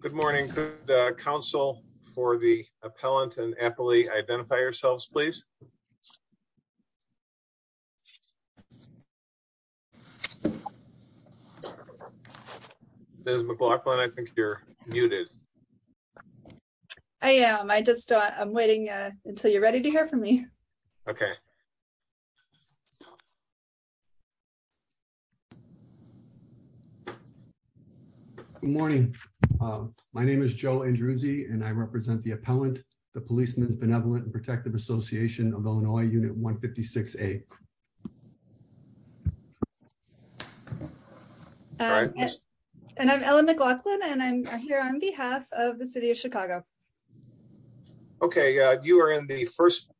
Good morning. Could the Council for the Appellant and Appellee identify yourselves, please? Ms. McLaughlin, I think you're muted. I am. I'm just waiting until you're ready to hear from me. Okay. Good morning. My name is Joe Andrews, and I represent the Appellant, the Policemen's Benevolent & Protective Association of Illinois, Unit 156A. And I'm Ellen McLaughlin, and I'm here on behalf of the City of Chicago. Okay, you are in the First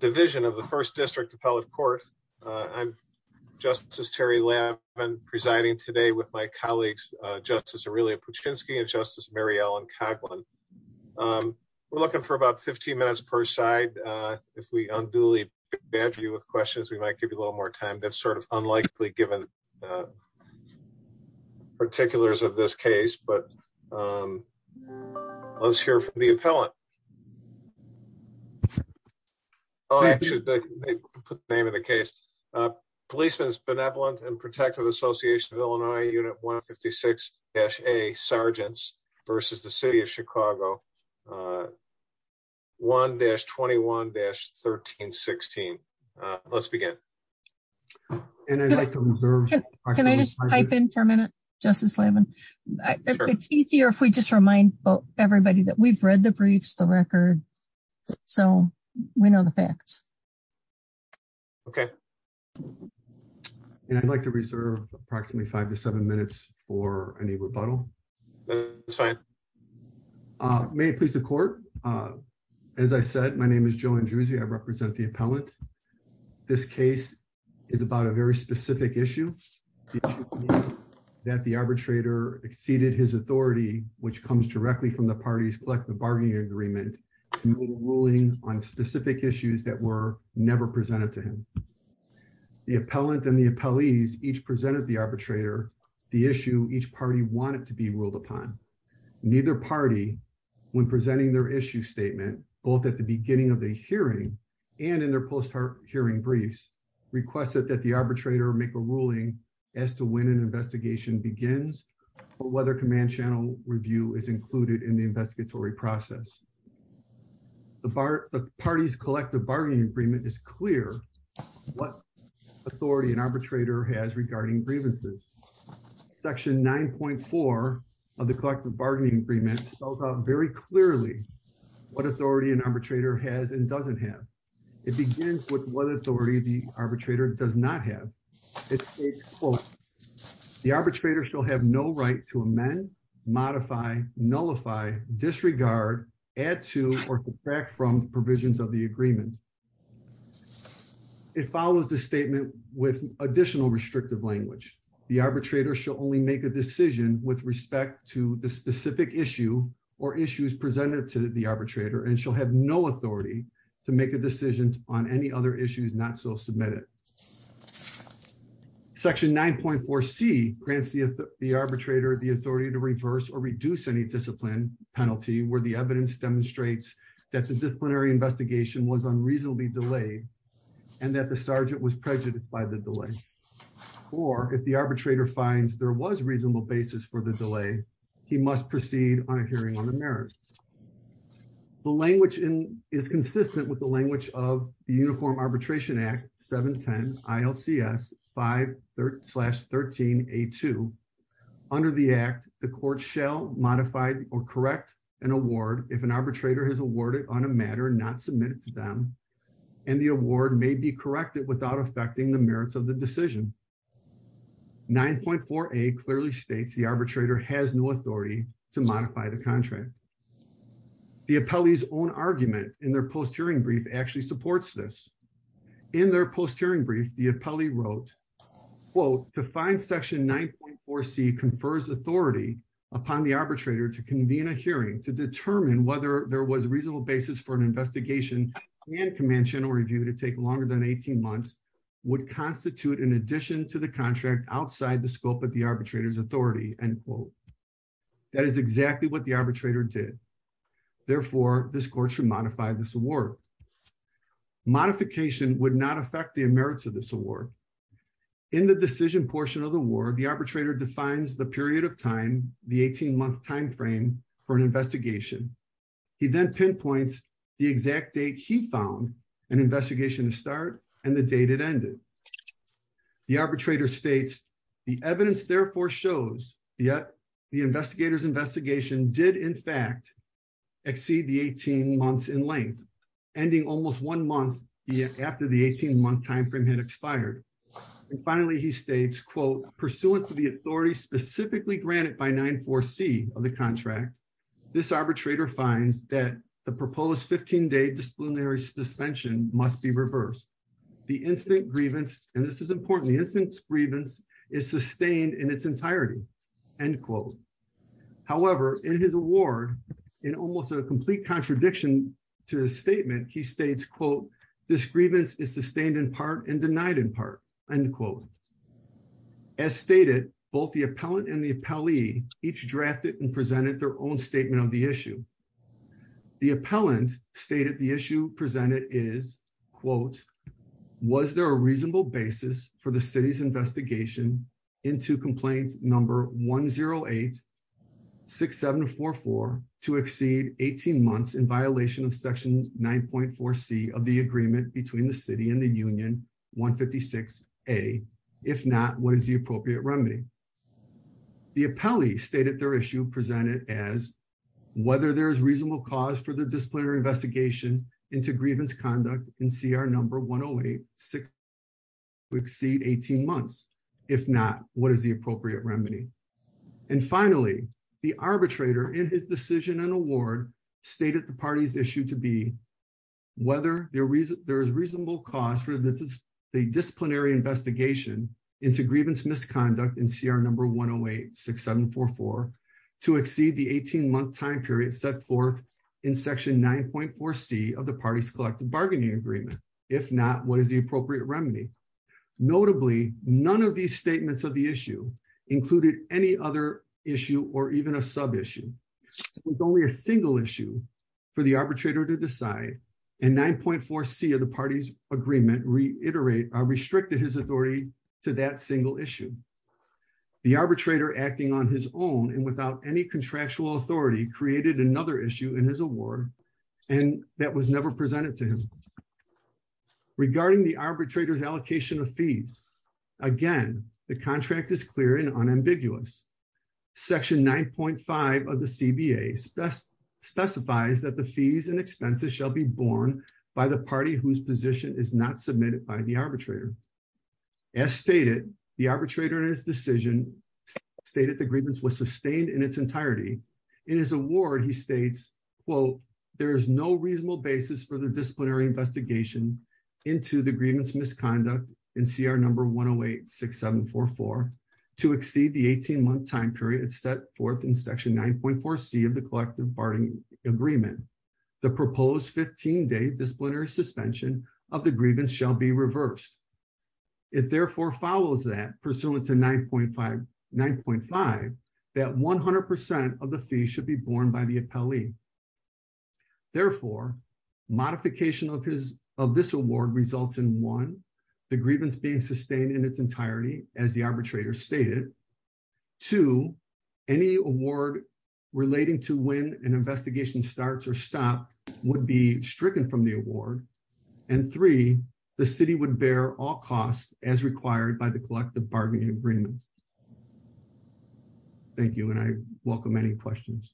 Division of the First District Appellate Court. I'm Justice Terry Lavin presiding today with my colleagues, Justice Aurelia Puczynski and Justice Mary Ellen Coughlin. We're looking for about 15 minutes per side. If we unduly badger you with questions, we might give you a little more time. That's sort of unlikely, given the particulars of this case, but let's hear from the Appellant. I should put the name of the case. Policemen's Benevolent & Protective Association of Illinois, Unit 156-A, Sergeants vs. the City of Chicago, 1-21-1316. Let's begin. Can I just type in for a minute, Justice Lavin? It's easier if we just remind everybody that we've read the briefs, the record, so we know the facts. Okay. And I'd like to reserve approximately five to seven minutes for any rebuttal. That's fine. May it please the Court. As I said, my name is Joe Andreuzzi, I represent the Appellant. This case is about a very specific issue. That the arbitrator exceeded his authority, which comes directly from the party's collective bargaining agreement, ruling on specific issues that were never presented to him. The Appellant and the appellees each presented the arbitrator the issue each party wanted to be ruled upon. Neither party, when presenting their issue statement, both at the beginning of the hearing and in their post-hearing briefs, requested that the arbitrator make a ruling as to when an investigation begins or whether command channel review is included in the investigatory process. The party's collective bargaining agreement is clear what authority an arbitrator has regarding grievances. Section 9.4 of the collective bargaining agreement spells out very clearly what authority an arbitrator has and doesn't have. It begins with what authority the arbitrator does not have. It states, quote, The arbitrator shall have no right to amend, modify, nullify, disregard, add to, or subtract from provisions of the agreement. It follows the statement with additional restrictive language. The arbitrator shall only make a decision with respect to the specific issue or issues presented to the arbitrator and shall have no authority to make a decision on any other issues not so submitted. Section 9.4C grants the arbitrator the authority to reverse or reduce any discipline penalty where the evidence demonstrates that the disciplinary investigation was unreasonably delayed and that the sergeant was prejudiced by the delay. Or, if the arbitrator finds there was reasonable basis for the delay, he must proceed on a hearing on the merits. The language is consistent with the language of the Uniform Arbitration Act 710 ILCS 5-13A2. Under the Act, the court shall modify or correct an award if an arbitrator has awarded on a matter not submitted to them, and the award may be corrected without affecting the merits of the decision. 9.4A clearly states the arbitrator has no authority to modify the contract. The appellee's own argument in their post-hearing brief actually supports this. In their post-hearing brief, the appellee wrote, quote, to find Section 9.4C confers authority upon the arbitrator to convene a hearing to determine whether there was reasonable basis for an investigation and command channel review to take longer than 18 months would constitute an addition to the contract outside the scope of the arbitrator's authority, end quote. That is exactly what the arbitrator did. Therefore, this court should modify this award. Modification would not affect the merits of this award. In the decision portion of the award, the arbitrator defines the period of time, the 18-month timeframe for an investigation. He then pinpoints the exact date he found an investigation to start and the date it ended. The arbitrator states the evidence, therefore, shows that the investigator's investigation did, in fact, exceed the 18 months in length, ending almost one month after the 18-month timeframe had expired. And finally, he states, quote, pursuant to the authority specifically granted by 9.4C of the contract, this arbitrator finds that the proposed 15-day disciplinary suspension must be reversed. The instant grievance, and this is important, the instant grievance is sustained in its entirety, end quote. However, in his award, in almost a complete contradiction to the statement, he states, quote, this grievance is sustained in part and denied in part, end quote. As stated, both the appellant and the appellee each drafted and presented their own statement of the issue. The appellant stated the issue presented is, quote, was there a reasonable basis for the city's investigation into complaint number 108-6744 to exceed 18 months in violation of section 9.4C of the agreement between the city and the union 156A, if not, what is the appropriate remedy? The appellee stated their issue presented as, whether there is reasonable cause for the disciplinary investigation into grievance conduct in CR number 108-6744 to exceed 18 months, if not, what is the appropriate remedy? And finally, the arbitrator in his decision and award stated the party's issue to be, whether there is reasonable cause for the disciplinary investigation into grievance misconduct in CR number 108-6744 to exceed the 18-month time period set forth in section 9.4C of the party's collective bargaining agreement, if not, what is the appropriate remedy? Notably, none of these statements of the issue included any other issue or even a sub-issue. It was only a single issue for the arbitrator to decide, and 9.4C of the party's agreement restricted his authority to that single issue. The arbitrator acting on his own and without any contractual authority created another issue in his award, and that was never presented to him. Regarding the arbitrator's allocation of fees, again, the contract is clear and unambiguous. Section 9.5 of the CBA specifies that the fees and expenses shall be borne by the party whose position is not submitted by the arbitrator. As stated, the arbitrator in his decision stated the grievance was sustained in its entirety. In his award, he states, quote, there is no reasonable basis for the disciplinary investigation into the grievance misconduct in CR number 108-6744 to exceed the 18-month time period set forth in section 9.4C of the collective bargaining agreement. The proposed 15-day disciplinary suspension of the grievance shall be reversed. It therefore follows that, pursuant to 9.5, that 100% of the fees should be borne by the appellee. Therefore, modification of this award results in, one, the grievance being sustained in its entirety, as the arbitrator stated. Two, any award relating to when an investigation starts or stops would be stricken from the award. And three, the city would bear all costs as required by the collective bargaining agreement. Thank you, and I welcome any questions.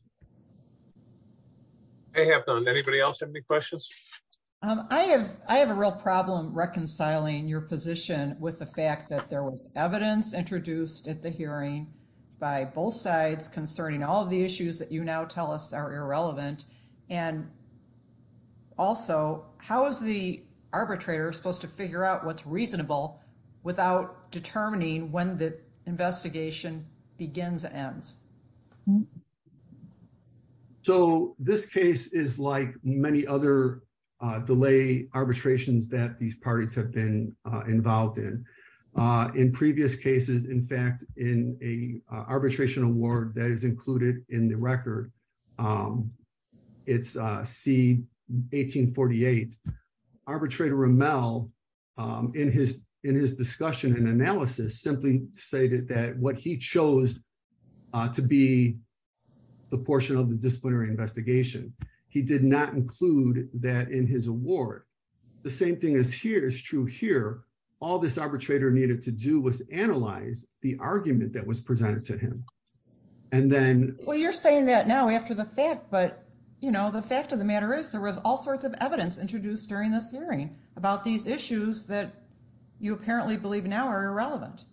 I have none. Anybody else have any questions? I have a real problem reconciling your position with the fact that there was evidence introduced at the hearing by both sides concerning all of the issues that you now tell us are irrelevant. And also, how is the arbitrator supposed to figure out what's reasonable without determining when the investigation begins and ends? So, this case is like many other delay arbitrations that these parties have been involved in. In previous cases, in fact, in an arbitration award that is included in the record, it's C-1848, Arbitrator Rommel, in his discussion and analysis, simply stated that what he chose to be the portion of the disciplinary investigation. He did not include that in his award. The same thing is true here. All this arbitrator needed to do was analyze the argument that was presented to him. Well, you're saying that now after the fact, but the fact of the matter is there was all sorts of evidence introduced during this hearing about these issues that you apparently believe now are irrelevant.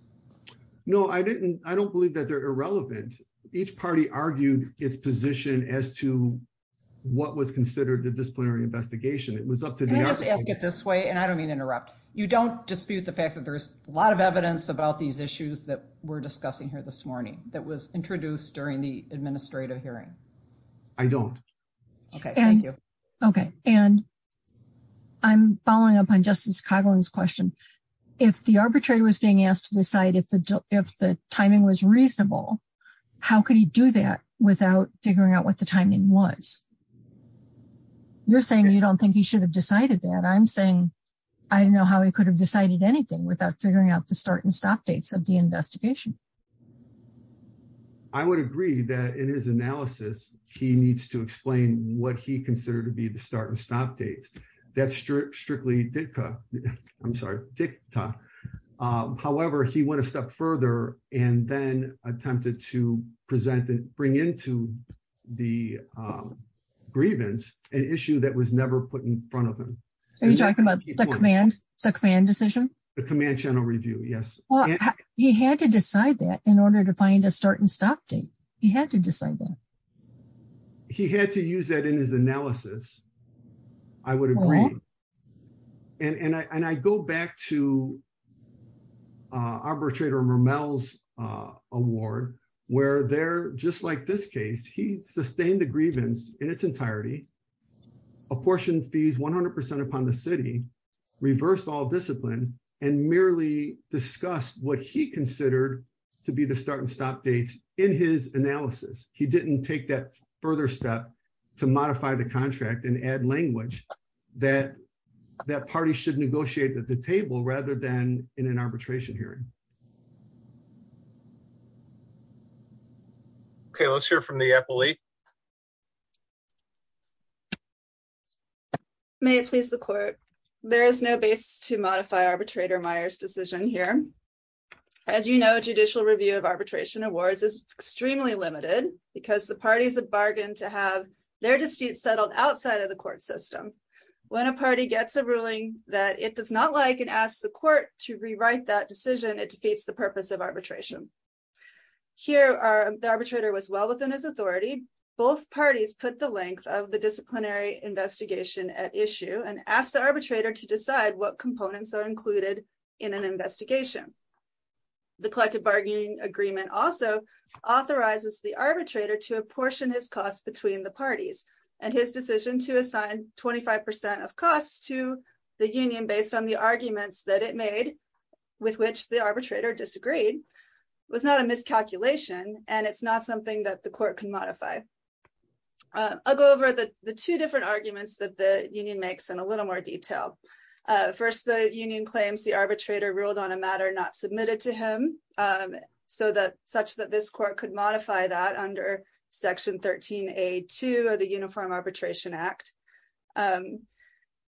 No, I don't believe that they're irrelevant. Each party argued its position as to what was considered the disciplinary investigation. Can I just ask it this way, and I don't mean interrupt. You don't dispute the fact that there's a lot of evidence about these issues that we're discussing here this morning that was introduced during the administrative hearing? I don't. Okay, thank you. Okay, and I'm following up on Justice Coghlan's question. If the arbitrator was being asked to decide if the timing was reasonable, how could he do that without figuring out what the timing was? You're saying you don't think he should have decided that. I'm saying I don't know how he could have decided anything without figuring out the start and stop dates of the investigation. I would agree that in his analysis, he needs to explain what he considered to be the start and stop dates. That's strictly dicta. I'm sorry, dicta. However, he went a step further and then attempted to present and bring into the grievance an issue that was never put in front of him. Are you talking about the command decision? The command channel review, yes. He had to decide that in order to find a start and stop date. He had to decide that. He had to use that in his analysis. I would agree. And I go back to arbitrator Murmel's award, where they're just like this case. He sustained the grievance in its entirety, apportioned fees 100% upon the city, reversed all discipline, and merely discussed what he considered to be the start and stop dates in his analysis. He didn't take that further step to modify the contract and add language that that party should negotiate at the table rather than in an arbitration hearing. Okay, let's hear from the appellee. May it please the court. There is no base to modify arbitrator Myers decision here. As you know, judicial review of arbitration awards is extremely limited because the parties have bargained to have their disputes settled outside of the court system. When a party gets a ruling that it does not like and asks the court to rewrite that decision, it defeats the purpose of arbitration. Here, the arbitrator was well within his authority. Both parties put the length of the disciplinary investigation at issue and asked the arbitrator to decide what components are included in an investigation. The collective bargaining agreement also authorizes the arbitrator to apportion his costs between the parties and his decision to assign 25% of costs to the union based on the arguments that it made, with which the arbitrator disagreed, was not a miscalculation and it's not something that the court can modify. I'll go over the two different arguments that the union makes in a little more detail. First, the union claims the arbitrator ruled on a matter not submitted to him, such that this court could modify that under Section 13A.2 of the Uniform Arbitration Act.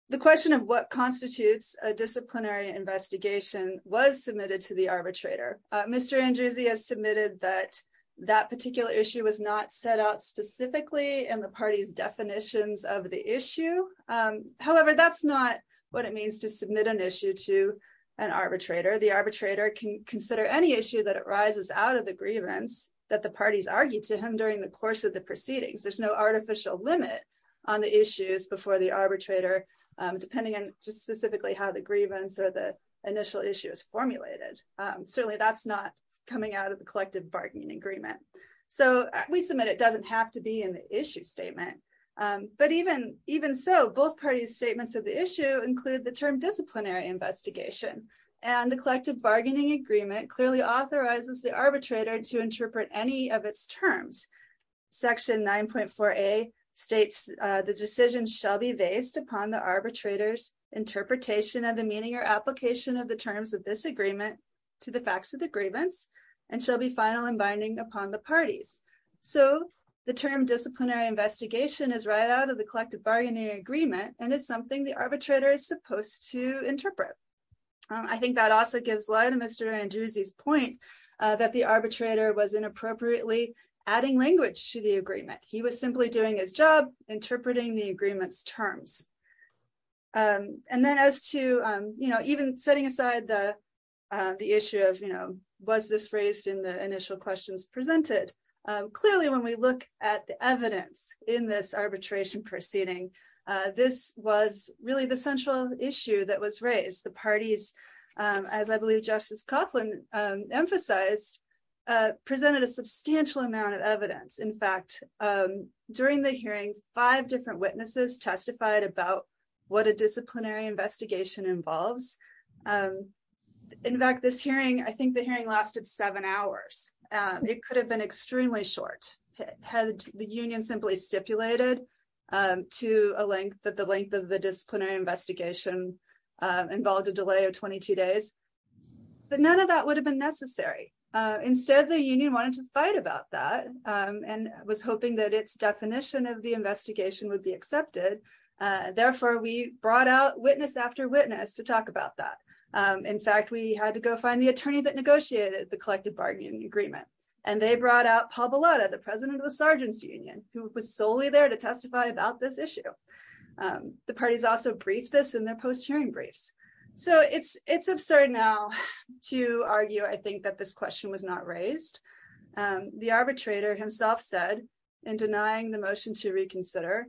The question of what constitutes a disciplinary investigation was submitted to the arbitrator. Mr. Andrews has submitted that that particular issue was not set out specifically in the party's definitions of the issue. However, that's not what it means to submit an issue to an arbitrator. The arbitrator can consider any issue that arises out of the grievance that the parties argued to him during the course of the proceedings. There's no artificial limit on the issues before the arbitrator, depending on just specifically how the grievance or the initial issue is formulated. Certainly, that's not coming out of the collective bargaining agreement. So we submit it doesn't have to be in the issue statement. But even so, both parties' statements of the issue include the term disciplinary investigation, and the collective bargaining agreement clearly authorizes the arbitrator to interpret any of its terms. Section 9.4A states, the decision shall be based upon the arbitrator's interpretation of the meaning or application of the terms of this agreement to the facts of the grievance, and shall be final and binding upon the parties. So the term disciplinary investigation is right out of the collective bargaining agreement and is something the arbitrator is supposed to interpret. I think that also gives light to Mr. Andrews's point that the arbitrator was inappropriately adding language to the agreement. He was simply doing his job interpreting the agreement's terms. And then as to, you know, even setting aside the issue of, you know, was this raised in the initial questions presented, clearly when we look at the evidence in this arbitration proceeding, this was really the central issue that was raised. The parties, as I believe Justice Coughlin emphasized, presented a substantial amount of evidence. In fact, during the hearing, five different witnesses testified about what a disciplinary investigation involves. In fact, this hearing, I think the hearing lasted seven hours. It could have been extremely short had the union simply stipulated to a length that the length of the disciplinary investigation involved a delay of 22 days. But none of that would have been necessary. Instead, the union wanted to fight about that and was hoping that its definition of the investigation would be accepted. Therefore, we brought out witness after witness to talk about that. In fact, we had to go find the attorney that negotiated the collective bargaining agreement. And they brought out Paul Bellotta, the president of the Sargency Union, who was solely there to testify about this issue. The parties also briefed this in their post-hearing briefs. So it's absurd now to argue, I think, that this question was not raised. The arbitrator himself said, in denying the motion to reconsider,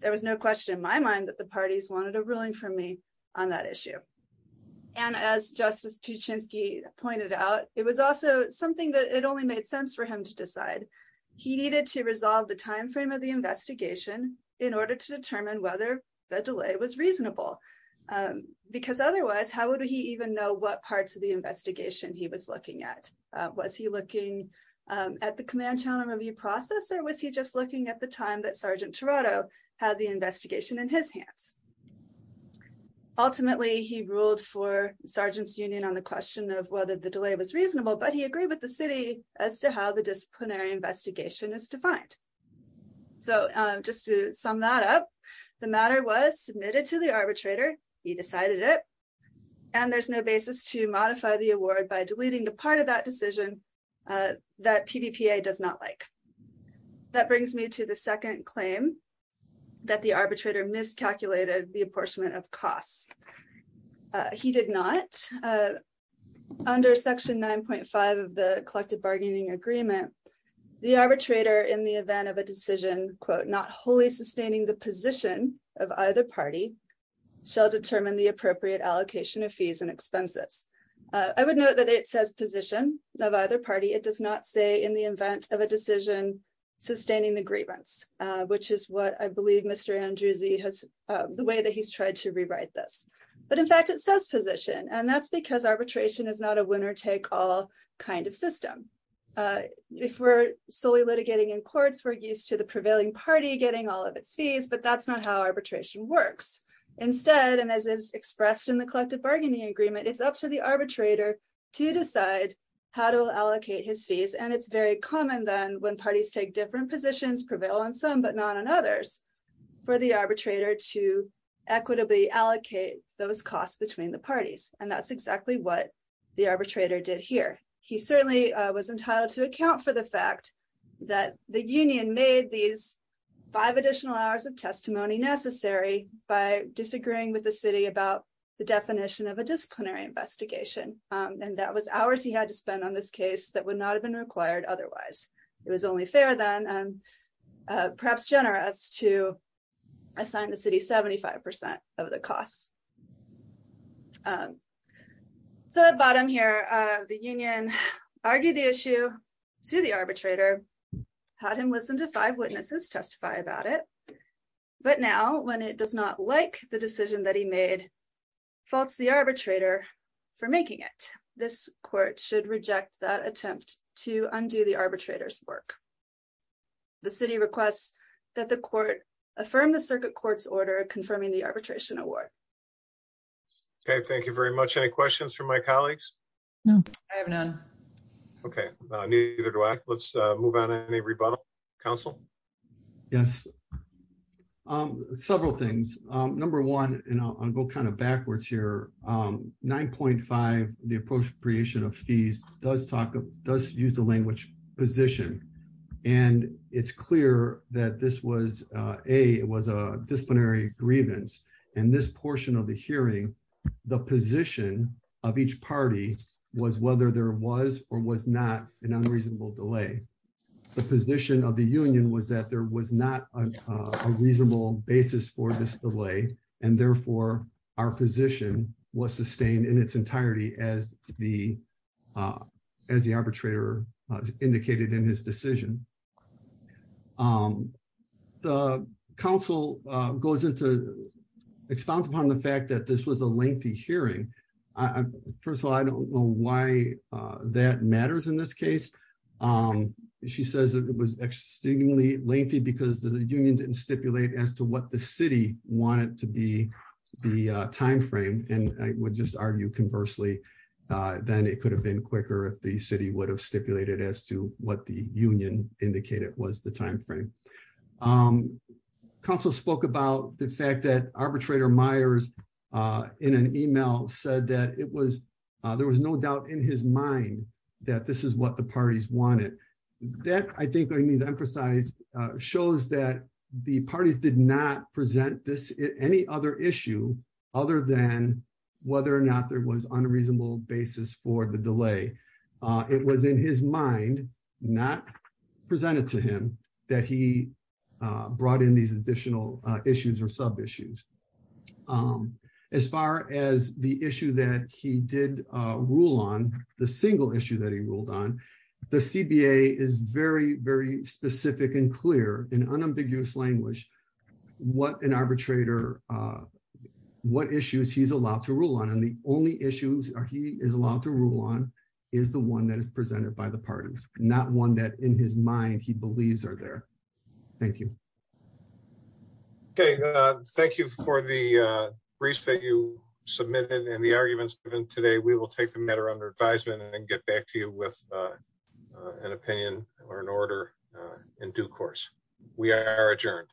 there was no question in my mind that the parties wanted a ruling from me on that issue. And as Justice Kuczynski pointed out, it was also something that it only made sense for him to decide. He needed to resolve the timeframe of the investigation in order to determine whether the delay was reasonable. Because otherwise, how would he even know what parts of the investigation he was looking at? Was he looking at the command channel review process, or was he just looking at the time that Sergeant Toronto had the investigation in his hands? Ultimately, he ruled for Sargent's Union on the question of whether the delay was reasonable, but he agreed with the city as to how the disciplinary investigation is defined. So just to sum that up, the matter was submitted to the arbitrator, he decided it, and there's no basis to modify the award by deleting the part of that decision that PBPA does not like. That brings me to the second claim, that the arbitrator miscalculated the apportionment of costs. He did not. Under Section 9.5 of the Collective Bargaining Agreement, the arbitrator, in the event of a decision, quote, not wholly sustaining the position of either party, shall determine the appropriate allocation of fees and expenses. I would note that it says position of either party, it does not say in the event of a decision, sustaining the grievance, which is what I believe Mr. Andrews has, the way that he's tried to rewrite this. But in fact, it says position, and that's because arbitration is not a winner-take-all kind of system. If we're solely litigating in courts, we're used to the prevailing party getting all of its fees, but that's not how arbitration works. Instead, and as is expressed in the Collective Bargaining Agreement, it's up to the arbitrator to decide how to allocate his fees, and it's very common, then, when parties take different positions, prevail on some but not on others, for the arbitrator to equitably allocate those costs between the parties, and that's exactly what the arbitrator did here. He certainly was entitled to account for the fact that the union made these five additional hours of testimony necessary by disagreeing with the city about the definition of a disciplinary investigation, and that was hours he had to spend on this case that would not have been required otherwise. It was only fair, then, perhaps generous, to assign the city 75% of the costs. So at the bottom here, the union argued the issue to the arbitrator, had him listen to five witnesses testify about it, but now, when it does not like the decision that he made, faults the arbitrator for making it. This court should reject that attempt to undo the arbitrator's work. The city requests that the court affirm the circuit court's order confirming the arbitration award. Okay, thank you very much. Any questions from my colleagues? No, I have none. Okay, neither do I. Let's move on. Any rebuttal, counsel? Yes, several things. Number one, and I'll go kind of backwards here, 9.5, the appropriation of fees, does use the language position, and it's clear that this was a disciplinary grievance, and this portion of the hearing, the position of each party was whether there was or was not an unreasonable delay. The position of the union was that there was not a reasonable basis for this delay, and therefore, our position was sustained in its entirety, as the arbitrator indicated in his decision. The counsel goes into, expounds upon the fact that this was a lengthy hearing. First of all, I don't know why that matters in this case. She says it was extremely lengthy because the union didn't stipulate as to what the city wanted to be the timeframe, and I would just argue conversely, then it could have been quicker if the city would have stipulated as to what the union indicated was the timeframe. Counsel spoke about the fact that arbitrator Myers, in an email, said that it was, there was no doubt in his mind that this is what the parties wanted. That, I think I need to emphasize, shows that the parties did not present this, any other issue, other than whether or not there was unreasonable basis for the delay. It was in his mind, not presented to him, that he brought in these additional issues or sub issues. As far as the issue that he did rule on, the single issue that he ruled on, the CBA is very, very specific and clear in unambiguous language, what an arbitrator, what issues he's allowed to rule on. And the only issues he is allowed to rule on is the one that is presented by the parties, not one that in his mind he believes are there. Thank you. Okay, thank you for the briefs that you submitted and the arguments given today, we will take the matter under advisement and get back to you with an opinion or an order in due course. We are adjourned.